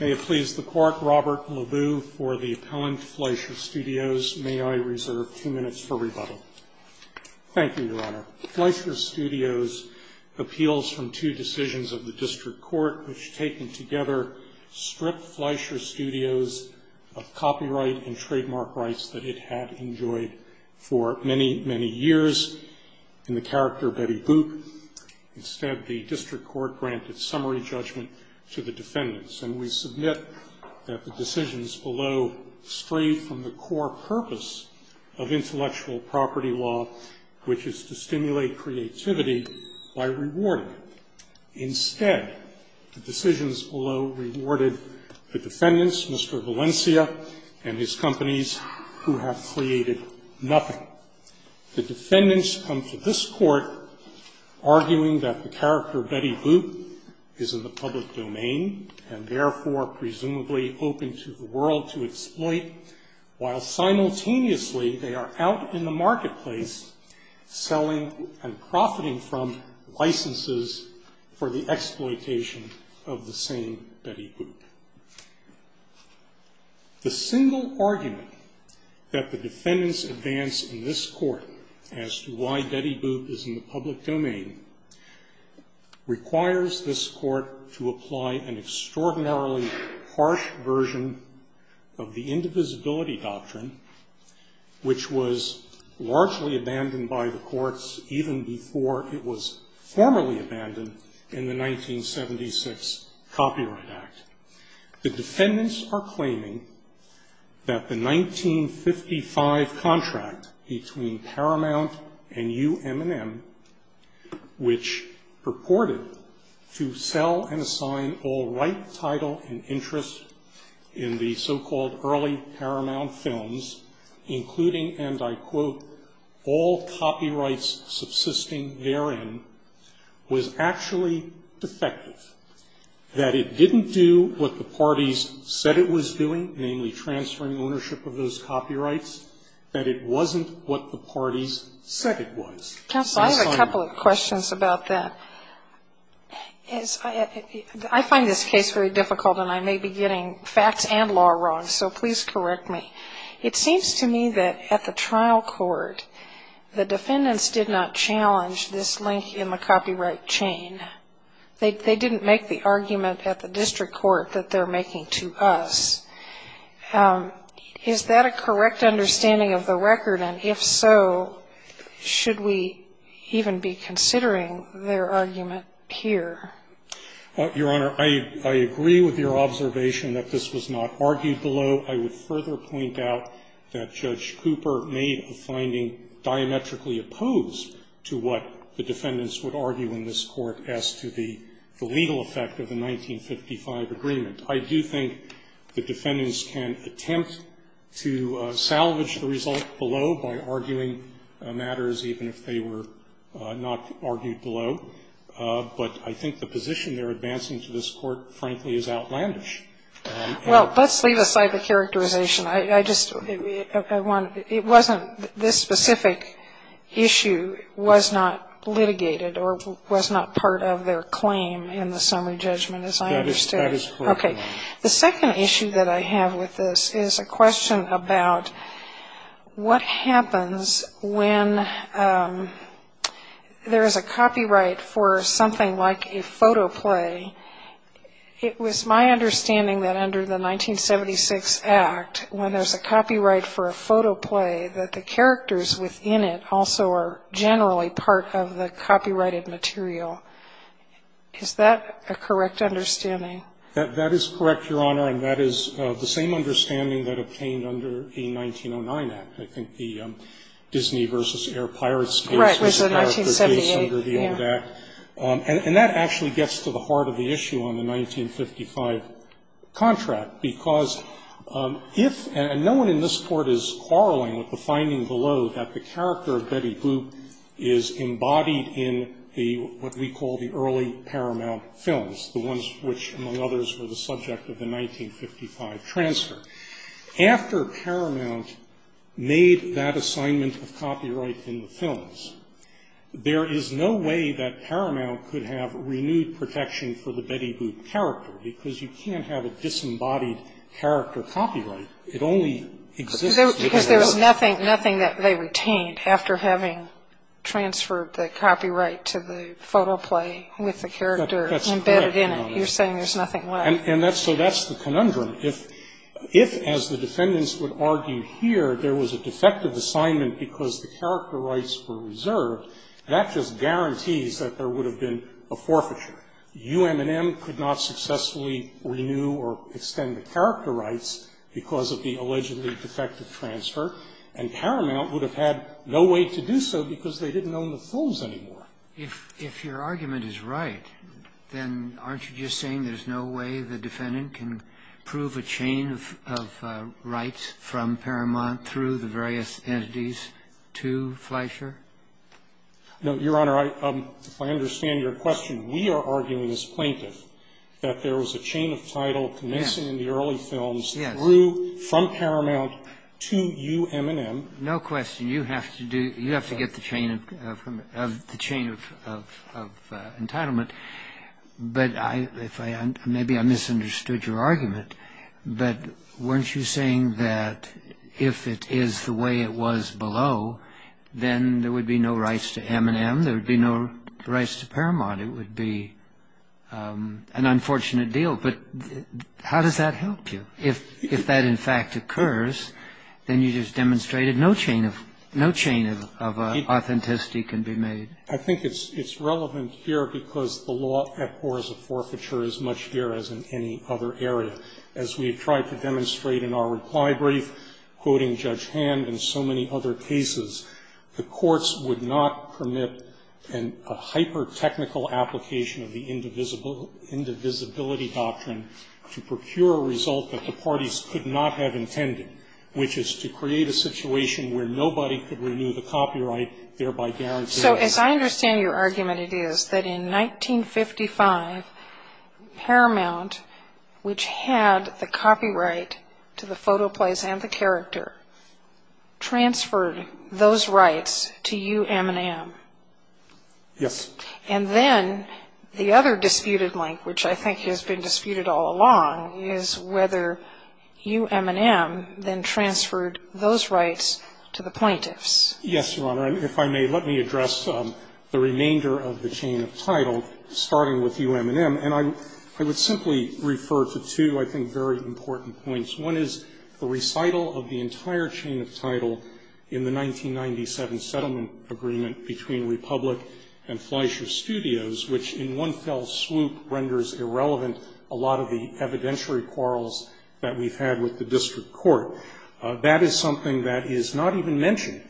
May it please the Court, Robert LeBou for the appellant, Fleischer Studios. May I reserve two minutes for rebuttal. Thank you, Your Honor. Fleischer Studios appeals from two decisions of the District Court which, taken together, stripped Fleischer Studios of copyright and trademark rights that it had enjoyed for many, many years. In the character Betty Boop, instead, the District Court granted summary judgment to the defendants, and we submit that the decisions below strayed from the core purpose of intellectual property law, which is to stimulate creativity by rewarding it. Instead, the decisions below rewarded the defendants, Mr. Valencia and his companies, who have created nothing. The defendants come to this Court arguing that the character Betty Boop is in the public domain and therefore presumably open to the world to exploit, while simultaneously they are out in the marketplace selling and profiting from licenses for the exploitation of the same Betty Boop. The single argument that the defendants advance in this Court as to why Betty Boop is in the public domain requires this Court to apply an extraordinarily harsh version of the Indivisibility Doctrine, which was largely abandoned by the courts even before it was formally abandoned in the 1976 Copyright Act. The defendants are claiming that the 1955 contract between Paramount and UM&M, which purported to sell and assign all right, title, and interest in the so-called early Paramount films, including, and I quote, all copyrights subsisting therein was actually defective, that it didn't do what the parties said it was doing, namely transferring ownership of those copyrights, that it wasn't what the parties said it was. Sotomayor. Counsel, I have a couple of questions about that. I find this case very difficult, and I may be getting facts and law wrong, so please correct me. It seems to me that at the trial court, the defendants did not challenge this link in the copyright chain. They didn't make the argument at the district court that they're making to us. Is that a correct understanding of the record? And if so, should we even be considering their argument here? Your Honor, I agree with your observation that this was not argued below. I would further point out that Judge Cooper made a finding diametrically opposed to what the defendants would argue in this Court as to the legal effect of the 1955 agreement. I do think the defendants can attempt to salvage the result below by arguing matters, even if they were not argued below. But I think the position they're advancing to this Court, frankly, is outlandish. Well, let's leave aside the characterization. I just want to be clear. It wasn't this specific issue was not litigated or was not part of their claim in the summary judgment, as I understood. That is correct, Your Honor. Okay. The second issue that I have with this is a question about what happens when there is a copyright for something like a photo play. It was my understanding that under the 1976 Act, when there's a copyright for a photo play, that the characters within it also are generally part of the copyrighted material. Is that a correct understanding? That is correct, Your Honor, and that is the same understanding that obtained under the 1909 Act. I think the Disney v. Air Pirates case was the character case under the old Act. And that actually gets to the heart of the issue on the 1955 contract, because if no one in this Court is quarreling with the finding below that the character of Betty Boop is embodied in what we call the early Paramount films, the ones which, among others, were the subject of the 1955 transfer. After Paramount made that assignment of copyright in the films, there is no way that Paramount could have renewed protection for the Betty Boop character, because you can't have a disembodied character copyright. It only exists if it is. Because there was nothing that they retained after having transferred the copyright to the photo play with the character embedded in it. That's correct, Your Honor. You're saying there's nothing left. And so that's the conundrum. If, as the defendants would argue here, there was a defective assignment because the character rights were reserved, that just guarantees that there would have been a forfeiture. U.M.N.M. could not successfully renew or extend the character rights because of the allegedly defective transfer, and Paramount would have had no way to do so because they didn't own the films anymore. If your argument is right, then aren't you just saying there's no way the defendant can prove a chain of rights from Paramount through the various entities to Fleischer? No, Your Honor. I understand your question. We are arguing as plaintiffs that there was a chain of title connected in the early films through from Paramount to U.M.N.M. No question. You have to get the chain of entitlement. Maybe I misunderstood your argument, but weren't you saying that if it is the way it was below, then there would be no rights to U.M.N.M., there would be no rights to Paramount. It would be an unfortunate deal. But how does that help you? If that, in fact, occurs, then you just demonstrated no chain of authenticity can be made. I think it's relevant here because the law at war is a forfeiture as much here as in any other area. As we've tried to demonstrate in our reply brief, quoting Judge Hand and so many other cases, the courts would not permit a hyper-technical application of the indivisibility doctrine to procure a result that the parties could not have intended, which is to create a situation where nobody could renew the copyright, thereby guaranteeing. So as I understand your argument, it is that in 1955, Paramount, which had the copyright to the photo plays and the character, transferred those rights to U.M.N.M. Yes. And then the other disputed link, which I think has been disputed all along, is whether U.M.N.M. then transferred those rights to the plaintiffs. Yes, Your Honor. If I may, let me address the remainder of the chain of title, starting with U.M.N.M. And I would simply refer to two, I think, very important points. One is the recital of the entire chain of title in the 1997 settlement agreement between Republic and Fleischer Studios, which in one fell swoop renders irrelevant a lot of the evidentiary quarrels that we've had with the district court. That is something that is not even mentioned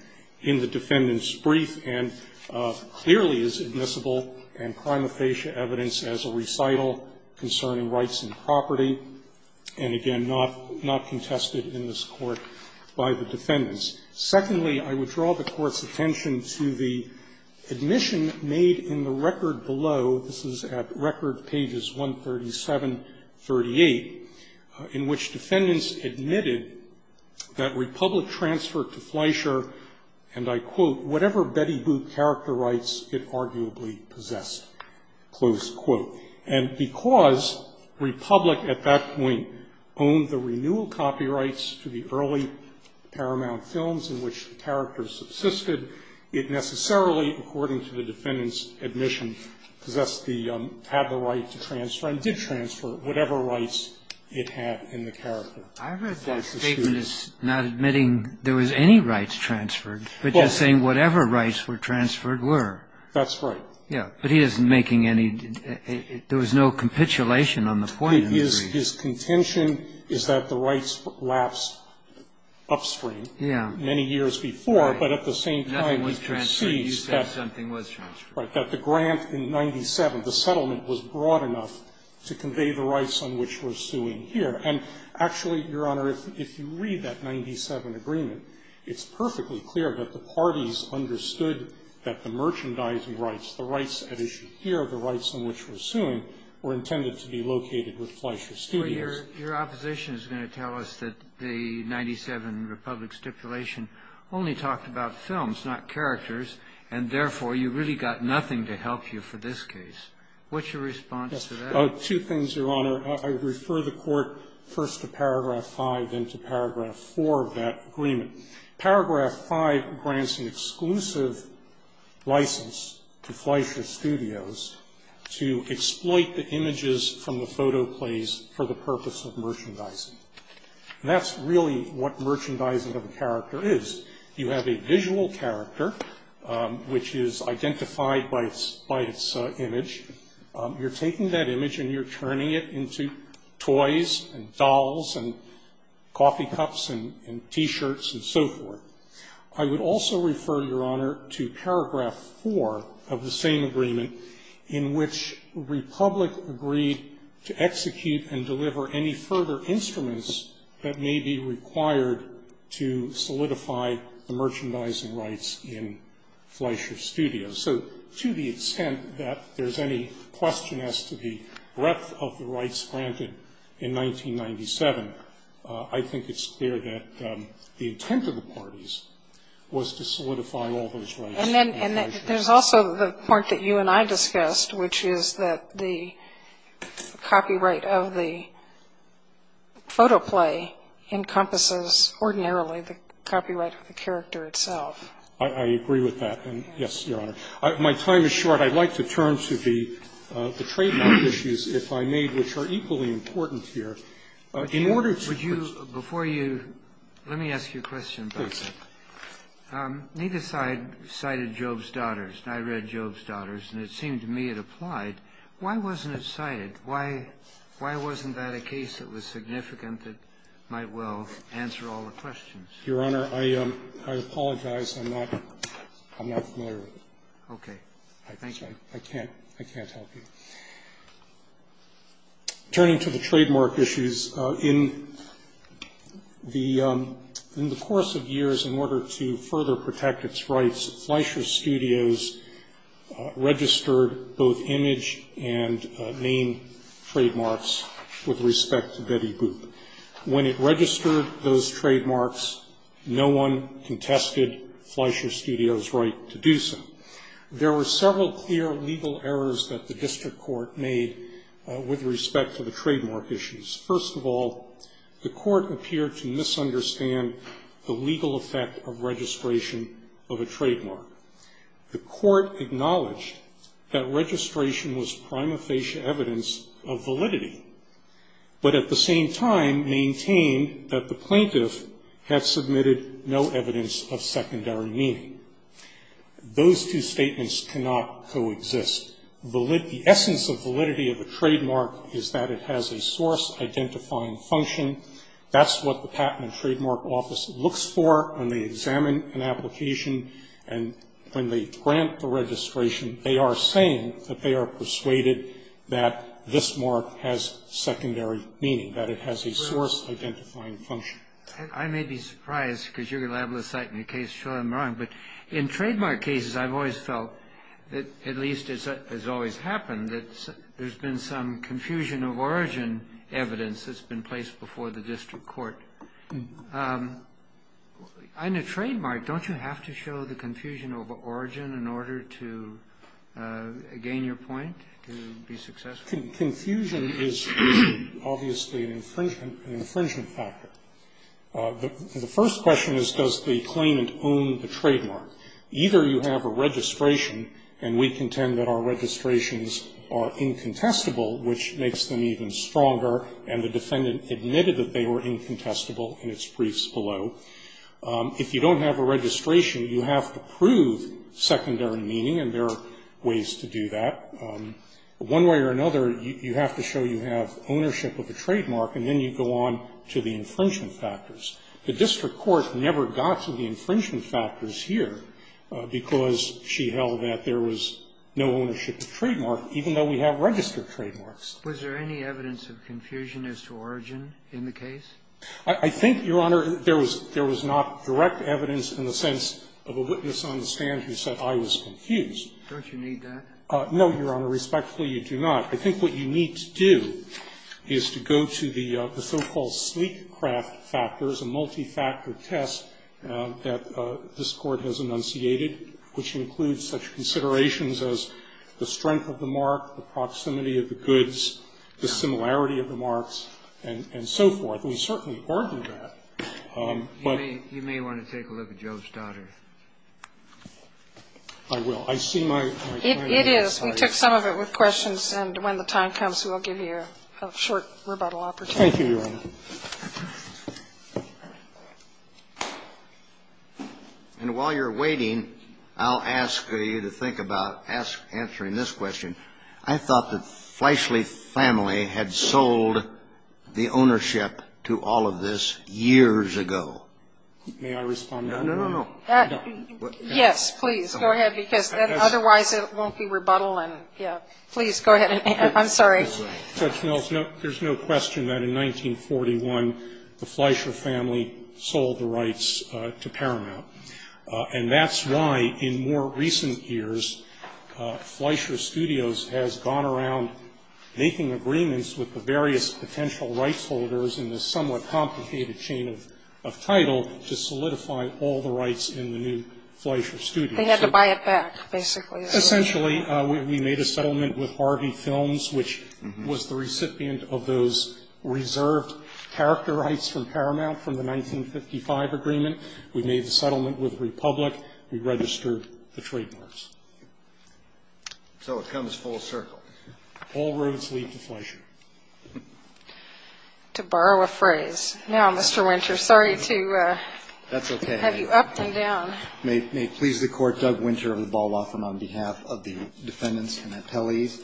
in the defendant's brief and clearly is admissible and prima facie evidence as a recital concerning rights and property and, again, not contested in this court by the defendants. Secondly, I would draw the court's attention to the admission made in the record below this is at record pages 137, 38, in which defendants admitted that Republic transferred to Fleischer, and I quote, whatever Betty Boop character rights it arguably possessed, close quote. And because Republic at that point owned the renewal copyrights to the early Paramount films, in which the character subsisted, it necessarily, according to the defendant's admission, possessed the, had the right to transfer and did transfer whatever rights it had in the character. I read that statement as not admitting there was any rights transferred, but just saying whatever rights were transferred were. That's right. Yeah, but he isn't making any, there was no capitulation on the point of the brief. His contention is that the rights lapsed upstream. Yeah. Many years before, but at the same time he proceeds that. Nothing was transferred. You said something was transferred. Right. That the grant in 97, the settlement was broad enough to convey the rights on which we're suing here. And actually, Your Honor, if you read that 97 agreement, it's perfectly clear that the parties understood that the merchandising rights, the rights at issue here, the rights on which we're suing, were intended to be located with Fleischer Studios. Your opposition is going to tell us that the 97 Republic stipulation only talked about films, not characters, and therefore you really got nothing to help you for this case. What's your response to that? Yes. Two things, Your Honor. I refer the Court first to paragraph 5, then to paragraph 4 of that agreement. Paragraph 5 grants an exclusive license to Fleischer Studios to exploit the images from the photo plays for the purpose of merchandising. And that's really what merchandising of a character is. You have a visual character, which is identified by its image. You're taking that image and you're turning it into toys and dolls and coffee cups and T-shirts and so forth. I would also refer, Your Honor, to paragraph 4 of the same agreement in which Republic agreed to execute and deliver any further instruments that may be required to solidify the merchandising rights in Fleischer Studios. So to the extent that there's any question as to the breadth of the rights granted in 1997, I think it's clear that the intent of the parties was to solidify all those rights. And then there's also the part that you and I discussed, which is that the copyright of the photo play encompasses ordinarily the copyright of the character itself. I agree with that. Yes, Your Honor. My time is short. But I'd like to turn to the trademark issues, if I may, which are equally important here. In order to... Would you, before you... Let me ask you a question about that. Please. Neither side cited Job's Daughters. I read Job's Daughters and it seemed to me it applied. Why wasn't it cited? Why wasn't that a case that was significant that might well answer all the questions? Your Honor, I apologize. I'm not familiar with it. Okay. Thank you. I'm sorry. I can't. I can't help you. Turning to the trademark issues, in the course of years, in order to further protect its rights, Fleischer Studios registered both image and name trademarks with respect to Betty Boop. When it registered those trademarks, no one contested Fleischer Studios' right to do so. There were several clear legal errors that the district court made with respect to the trademark issues. First of all, the court appeared to misunderstand the legal effect of registration of a trademark. The court acknowledged that registration was prima facie evidence of validity. But at the same time maintained that the plaintiff had submitted no evidence of secondary meaning. Those two statements cannot coexist. The essence of validity of a trademark is that it has a source identifying function. That's what the Patent and Trademark Office looks for when they examine an application and when they grant the registration. They are saying that they are persuaded that this mark has secondary meaning, that it has a source identifying function. I may be surprised, because you're going to be able to cite me a case and show I'm wrong, but in trademark cases I've always felt, at least as always happened, that there's been some confusion of origin evidence that's been placed before the district court. In a trademark, don't you have to show the confusion of origin in order to gain your point, to be successful? Confusion is obviously an infringement factor. The first question is, does the claimant own the trademark? Either you have a registration, and we contend that our registrations are incontestable, which makes them even stronger, and the defendant admitted that they were incontestable in its briefs below. If you don't have a registration, you have to prove secondary meaning, and there are ways to do that. One way or another, you have to show you have ownership of the trademark, and then you go on to the infringement factors. The district court never got to the infringement factors here, because she held that there was no ownership of trademark, even though we have registered trademarks. Was there any evidence of confusion as to origin in the case? I think, Your Honor, there was not direct evidence in the sense of a witness on the stand who said, I was confused. Don't you need that? No, Your Honor. Respectfully, you do not. I think what you need to do is to go to the so-called sleek craft factors, a multi-factor test that this Court has enunciated, which includes such considerations as the strength of the mark, the proximity of the goods, the similarity of the marks, and so forth. We certainly argue that. But you may want to take a look at Joe's daughter. I will. I see my time is up. It is. We took some of it with questions, and when the time comes, we'll give you a short rebuttal opportunity. Thank you, Your Honor. And while you're waiting, I'll ask you to think about answering this question. I thought the Fleishley family had sold the ownership to all of this years ago. May I respond? No, no, no. Yes, please. Go ahead, because otherwise it won't be rebuttal. Please, go ahead. I'm sorry. Judge Mills, there's no question that in 1941 the Fleisher family sold the rights to Paramount. And that's why, in more recent years, Fleisher Studios has gone around making agreements with the various potential rights holders in this somewhat complicated chain of title to solidify all the rights in the new Fleisher Studios. They had to buy it back, basically. Essentially, we made a settlement with Harvey Films, which was the recipient of those reserved character rights from Paramount from the 1955 agreement. We made the settlement with Republic. We registered the trademarks. So it comes full circle. All roads lead to Fleisher. To borrow a phrase. Now, Mr. Winter, sorry to have you up and down. That's okay. May it please the Court, Doug Winter of the Ball Law Firm on behalf of the defendants and appellees.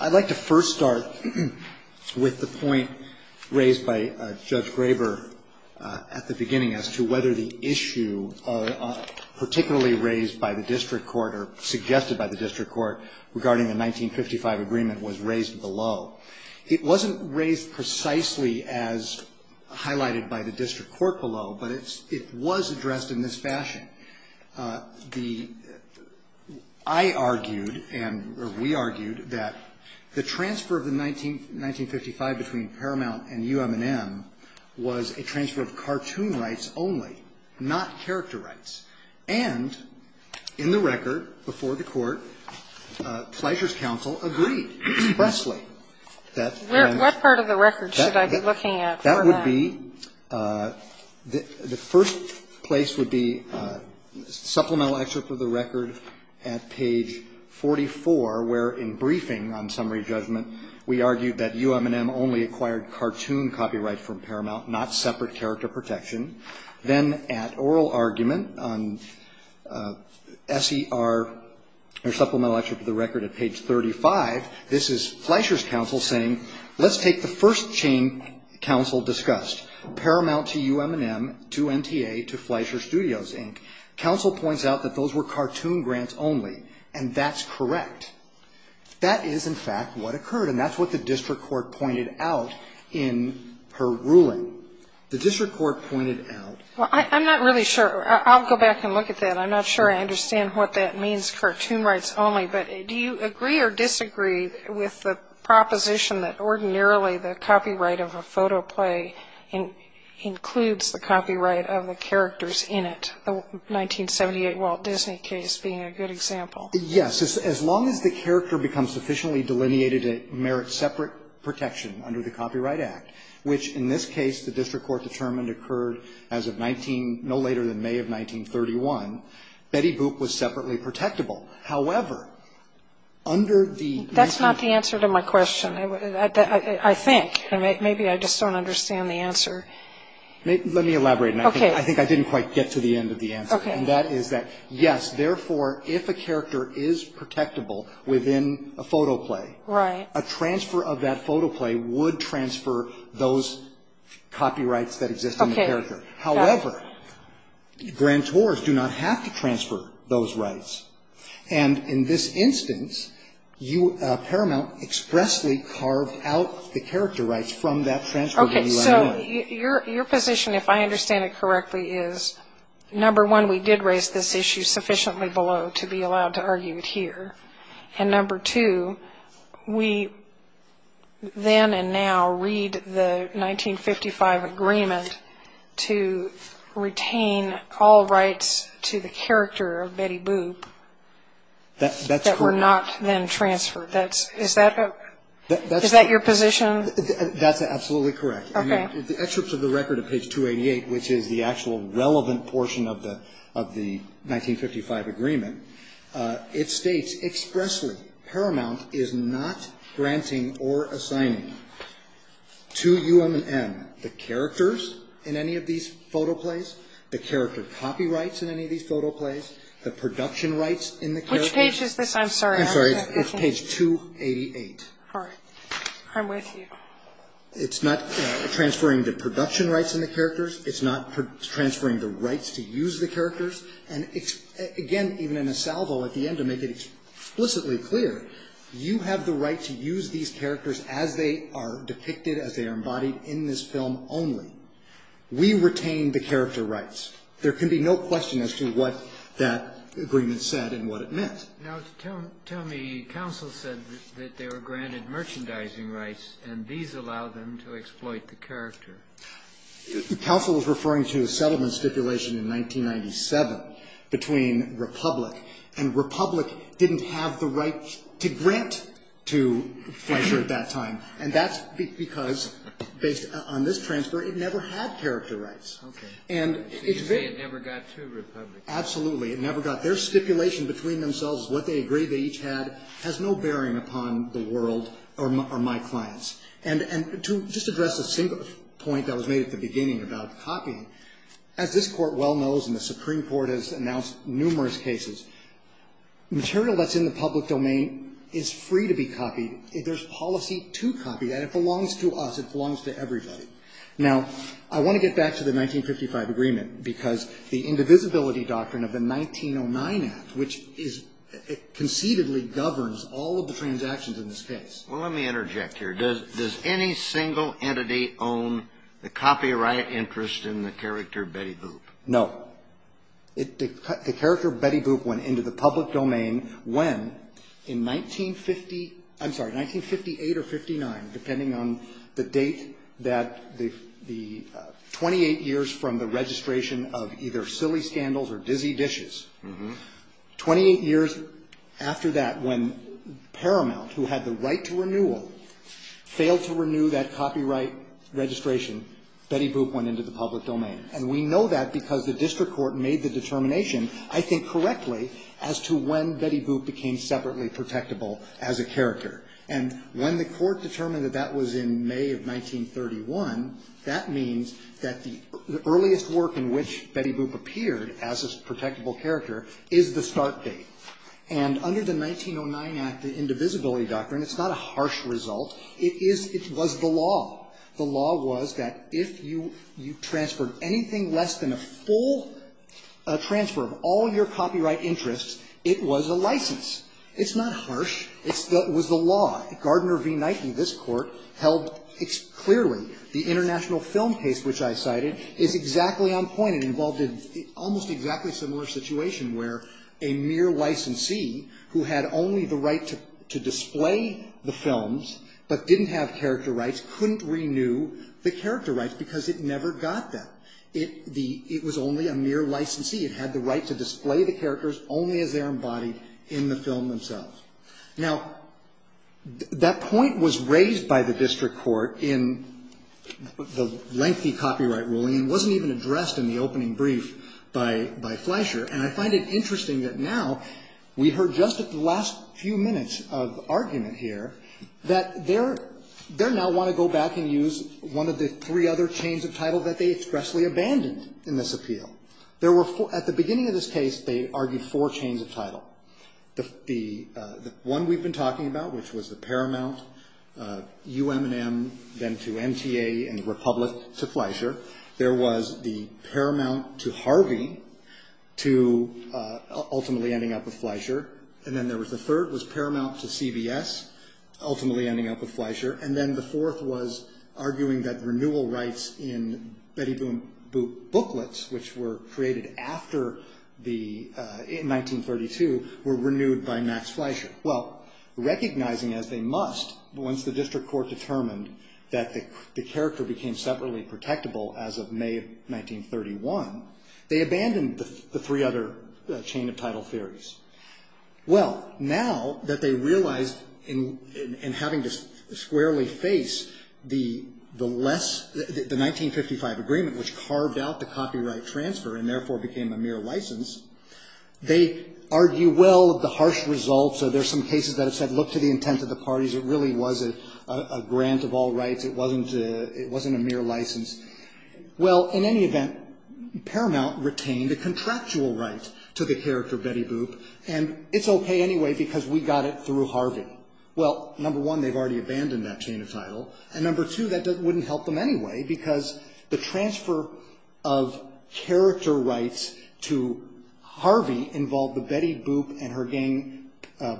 I'd like to first start with the point raised by Judge Graber at the beginning as to whether the issue particularly raised by the district court or suggested by the district court regarding the 1955 agreement was raised below. It wasn't raised precisely as highlighted by the district court below, but it was addressed in this fashion. I argued, and we argued, that the transfer of the 1955 between Paramount and UM&M was a transfer of cartoon rights only, not character rights. And in the record before the court, Fleisher's counsel agreed expressly that What part of the record should I be looking at for that? The first place would be supplemental excerpt of the record at page 44, where in briefing on summary judgment, we argued that UM&M only acquired cartoon copyright from Paramount, not separate character protection. Then at oral argument on SER, or supplemental excerpt of the record at page 35, this is Fleisher's counsel saying, Let's take the first chain counsel discussed. Paramount to UM&M to MTA to Fleisher Studios, Inc. Counsel points out that those were cartoon grants only. And that's correct. That is, in fact, what occurred. And that's what the district court pointed out in her ruling. The district court pointed out Well, I'm not really sure. I'll go back and look at that. I'm not sure I understand what that means, cartoon rights only. But do you agree or disagree with the proposition that ordinarily the copyright of a photo play includes the copyright of the characters in it? The 1978 Walt Disney case being a good example. Yes, as long as the character becomes sufficiently delineated to merit separate protection under the Copyright Act, which in this case the district court determined occurred as of no later than May of 1931, Betty Boop was separately protectable. However, under the That's not the answer to my question. I think. Maybe I just don't understand the answer. Let me elaborate. I think I didn't quite get to the end of the answer. And that is that, yes, therefore, if a character is protectable within a photo play, a transfer of that photo play would transfer those copyrights that exist in the character. However, grantors do not have to transfer those rights. And in this instance, Paramount expressly carved out the character rights from that transfer. So your position, if I understand it correctly, is number one, we did raise this issue sufficiently below to be allowed to argue it here. And number two, we then and now read the 1955 agreement to retain all rights to the character of Betty Boop that were not then transferred. Is that your position? That's absolutely correct. The excerpts of the record of page 288, which is the actual relevant portion of the 1955 agreement, it states expressly, Paramount is not granting or assigning to UM&M the characters in any of these photo plays, the character copyrights in any of these photo plays, the production rights in the characters. Which page is this? I'm sorry. I'm sorry. It's page 288. All right. I'm with you. It's not transferring the production rights in the characters. It's not transferring the rights to use the characters. And again, even in a salvo at the end, to make it explicitly clear, you have the right to use these characters as they are depicted, as they are embodied in this film only. We retain the character rights. There can be no question as to what that agreement said and what it meant. Now tell me, counsel said that they were granted merchandising rights and these allowed them to exploit the character. Counsel was referring to a settlement stipulation in 1997 between Republic and Republic didn't have the right to grant to Fletcher at that time. And that's because based on this transfer, it never had character rights. Okay. So you say it never got to Republic. Absolutely. It never got there. Stipulation between themselves, what they agreed they each had, has no bearing upon the world or my clients. And to just address a single point that was made at the beginning about copying, as this Court well knows and the Supreme Court has announced numerous cases, material that's in the public domain is free to be copied. There's policy to copy that. It belongs to us. It belongs to everybody. Now, I want to get back to the 1955 agreement because the Indivisibility Doctrine of the 1909 Act, which concededly governs all of the transactions in this case. Well, let me interject here. Does any single entity own the copyright interest in the character Betty Boop? No. The character Betty Boop went into the public domain when in 1950 I'm sorry, 1958 or 59 depending on the date that the 28 years from the registration of either Silly Scandals or Dizzy Dishes 28 years after that when Paramount, who had the right to renewal failed to renew that copyright registration Betty Boop went into the public domain. And we know that because the District Court made the determination, I think correctly as to when Betty Boop became separately protectable as a character. And when the Court determined that that was in May of 1931 that means that the earliest work in which Betty Boop appeared as a protectable character is the start date. And under the 1909 Act the Indivisibility Doctrine, it's not a harsh result it was the law. The law was that if you transferred anything less than a full transfer of all your copyright interests it was a license. It's not harsh. It was the law. Gardner v. Nike, this Court held clearly the international film case which I cited is exactly on point. It involved an almost exactly similar situation where a mere licensee who had only the right to display the films but didn't have character rights couldn't renew the character rights because it never got that. It was only a mere licensee. It had the right to display the characters only as they're embodied in the film themselves. Now that point was raised by the District Court in the lengthy copyright ruling and wasn't even addressed in the opening brief by Fleischer and I find it interesting that now we heard just at the last few minutes of argument here that they now want to go back and use one of the three other chains of title that they expressly abandoned in this appeal. At the beginning of this case they argued four chains of title. The one we've been talking about which was the Paramount, UM&M then to MTA and Republic to Fleischer there was the Paramount to Harvey to ultimately ending up with Fleischer and then the third was Paramount to CBS ultimately ending up with Fleischer and then the fourth was arguing that renewal rights in Betty Boop booklets which were created after in 1932 were renewed by Max Fleischer. Recognizing as they must once the District Court determined that the character became separately protectable as of May of 1931, they abandoned the three other chain of title theories. Now that they realized in having to squarely face the 1955 agreement which carved out the copyright transfer and therefore became a mere license they argue well of the harsh results. There are some cases that have said look to the intent of the parties. It really was a grant of all rights. It wasn't a mere license. Well, in any event Paramount retained a contractual right to the character Betty Boop and it's okay anyway because we got it through Harvey. Well, number one, they've already abandoned that chain of title and number two, that wouldn't help them anyway because the transfer of character rights to Harvey involved the Betty Boop and her gang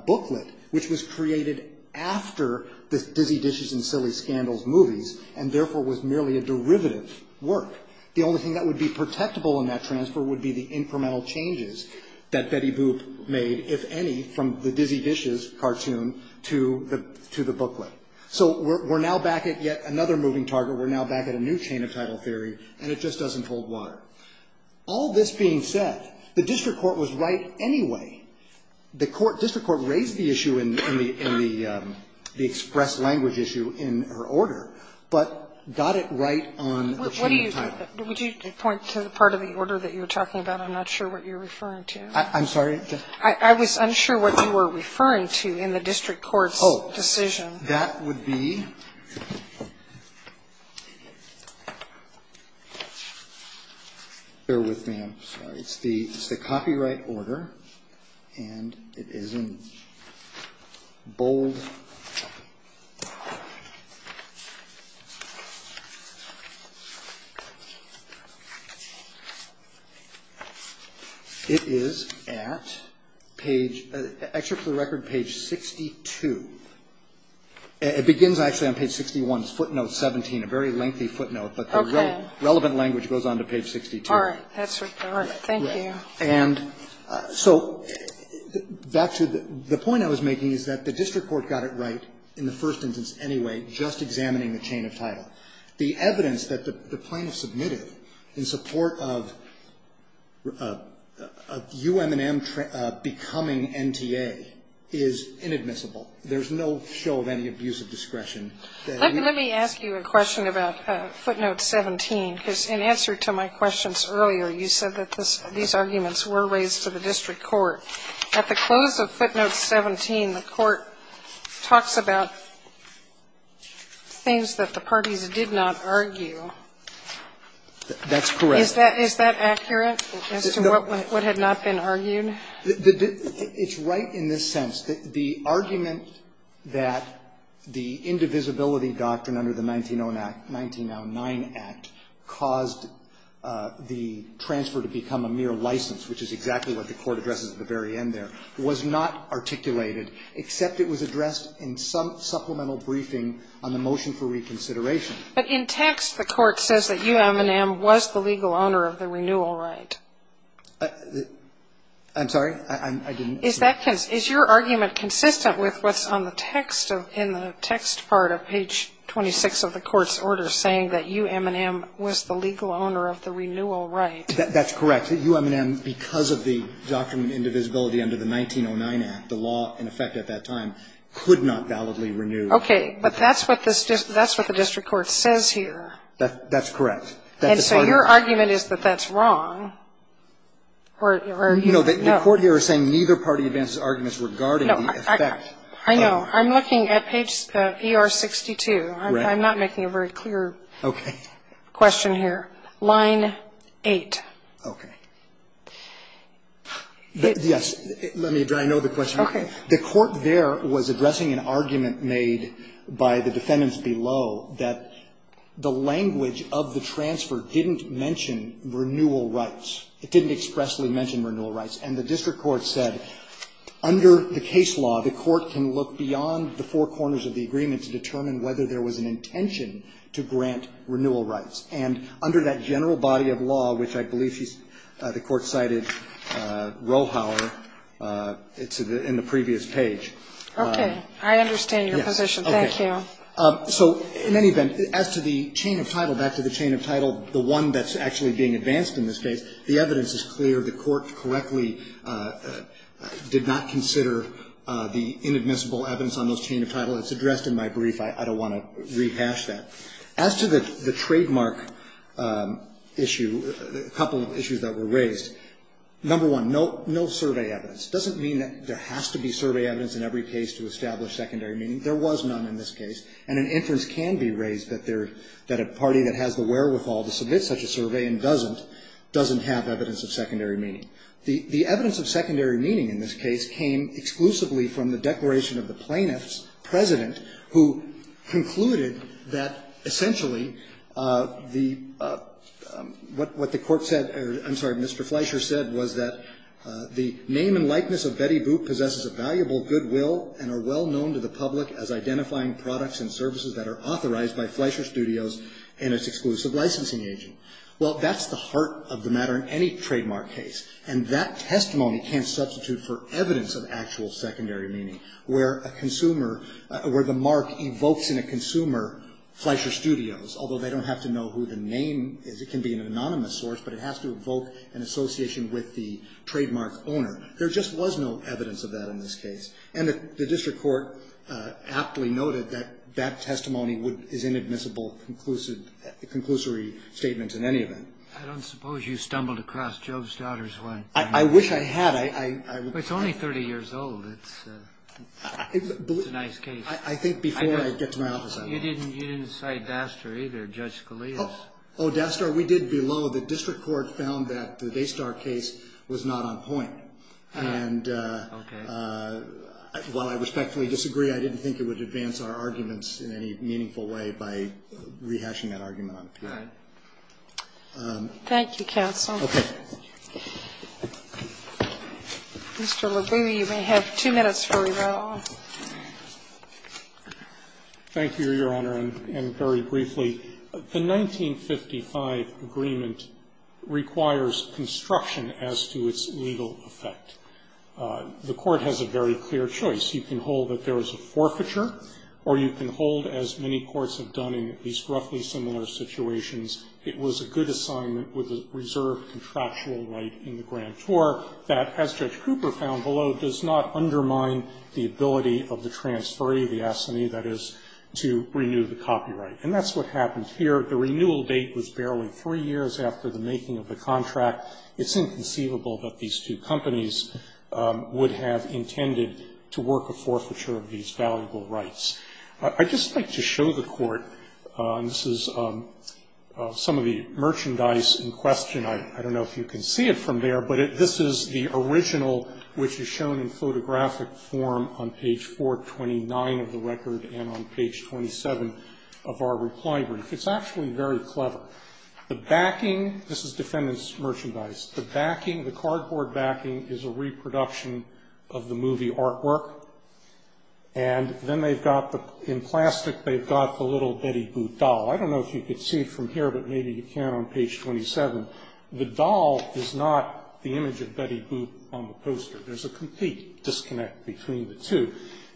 booklet which was created after the Dizzy Dishes and Silly Scandals movies and therefore was merely a derivative work. The only thing that would be protectable in that transfer would be the incremental changes that Betty Boop made, if any, from the Dizzy Dishes cartoon to the booklet. So we're now back at yet another moving target. We're now back at a new chain of title theory and it just doesn't hold water. All this being said, the district court was right anyway. The district court raised the issue in the express language issue in her order but got it right on the chain of title. Would you point to the part of the order that you were talking about? I'm not sure what you're referring to. I'm sorry? I was unsure what you were referring to in the district court's decision. Oh, that would be Bear with me, I'm sorry. It's the copyright order and it is in bold It is at page, actually for the record page 62. It begins actually on page 61, footnote 17, a very lengthy footnote, but the relevant language goes on to page 62. All right. Thank you. And so back to the point I was making is that the district court got it right in the first instance anyway, just examining the chain of title. The evidence that the plaintiff submitted in support of UM&M becoming NTA is inadmissible. There's no show of any abusive discretion. Let me ask you a question about footnote 17 because in answer to my questions earlier you said that these arguments were raised to the district court. At the close of footnote 17, the court talks about things That's correct. Is that accurate as to what had not been argued? It's right in this sense. The argument that the indivisibility doctrine under the 1909 Act caused the transfer to become a mere license, which is exactly what the court addresses at the very end there, was not articulated except it was addressed in some supplemental briefing on the motion for reconsideration. But in text the court says that UM&M was the legal owner of the renewal right. I'm sorry? Is your argument consistent with what's on the text in the text part of page 26 of the court's order saying that UM&M was the legal owner of the renewal right? That's correct. UM&M because of the doctrine of indivisibility under the 1909 Act, the law in effect at that time could not validly renew. Okay. But that's what the district court says here. That's correct. And so your argument is that that's wrong. You know, the court here is saying neither party advances arguments regarding the effect. I know. I'm looking at page ER62. I'm not making a very clear question here. Line 8. Okay. Yes. Let me try to know the question. Okay. The court there was addressing an argument made by the defendants below that the language of the transfer didn't mention renewal rights. It didn't expressly mention renewal rights. And the district court said under the case law, the court can look beyond the four corners of the agreement to determine whether there was an intention to grant renewal rights. And under that general body of law, which I believe the court cited Rohauer in the previous page. Okay. I understand your position. Thank you. So in any event, as to the chain of title, the one that's actually being advanced in this case, the evidence is clear. The court correctly did not consider the inadmissible evidence on those chain of title. It's addressed in my brief. I don't want to rehash that. As to the trademark issue, a couple of issues that were raised. Number one, no survey evidence. Doesn't mean that there has to be survey evidence in every case to establish secondary meaning. There was none in this case. And an inference can be raised that a party that has the wherewithal to submit such a survey and doesn't, doesn't have evidence of secondary meaning. The evidence of secondary meaning in this case came exclusively from the declaration of the plaintiff's president, who concluded that essentially the what the court said, I'm sorry, Mr. Fleischer said was that the name and likeness of Betty Boop possesses a valuable goodwill and are well known to the public as identifying products and services that are authorized by Fleischer Studios and its exclusive licensing agent. Well, that's the heart of the matter in any trademark case. And that testimony can't substitute for evidence of actual secondary meaning where a consumer, where the mark evokes in a consumer Fleischer Studios, although they don't have to know who the name is. It can be an anonymous source, but it has to evoke an association with the trademark owner. There just was no evidence of that in this case. And the district court aptly noted that that testimony is inadmissible conclusory statements in any event. I don't suppose you stumbled across Job's Daughter's one. I wish I had. It's only 30 years old. It's a nice case. I think before I get to my office I will. You didn't cite Dastar either, Judge Scalia's. Oh, Dastar, we did below. The district court found that the Daystar case was not on point. And while I respectfully disagree, I didn't think it would advance our arguments in any meaningful way by rehashing that argument on appeal. All right. Thank you, counsel. Okay. Mr. LeGue, you may have two minutes for rebuttal. Thank you, Your Honor, and very briefly. The 1955 agreement requires construction as to its legal effect. The Court has a very clear choice. You can hold that there was a forfeiture, or you can hold, as many courts have done in at least roughly similar situations, it was a good assignment with a reserved contractual right in the grand tour that, as Judge Cooper found below, does not undermine the ability of the transferee, the assignee, that is, to renew the copyright. And that's what happened here. The renewal date was barely three years after the making of the contract. It's inconceivable that these two companies would have intended to work a forfeiture of these valuable rights. I'd just like to show the Court, and this is some of the merchandise in question. I don't know if you can see it from there, but this is the original, which is shown in photographic form on page 429 of the record and on page 27 of our reply brief. It's actually very clever. The backing, this is defendant's merchandise. The backing, the cardboard backing, is a reproduction of the movie artwork. And then they've got the, in plastic, they've got the little Betty Boop doll. I don't know if you can see it from here, but maybe you can on page 27. The doll is not the image of Betty Boop on the poster. There's a complete disconnect between the two.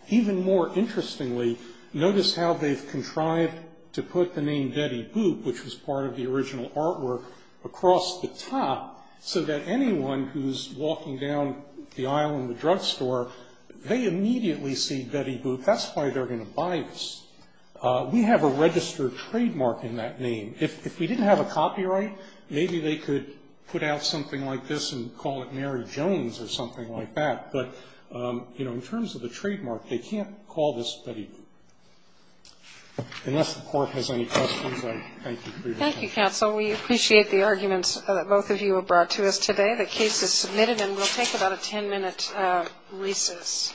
Even more interestingly, notice how they've contrived to put the name Betty Boop, which was part of the original artwork, across the top so that anyone who's walking down the aisle in the drugstore, they immediately see Betty Boop. That's why they're going to buy this. We have a registered trademark in that name. If we didn't have a copyright, maybe they could put out something like this and call it Mary Jones or something like that. But, you know, in terms of the trademark, they can't call this Betty Boop. Unless the Court has any questions, I thank you for your time. Thank you, Counsel. We appreciate the arguments that both of you have brought to us today. The case is submitted and we'll take about a ten-minute recess.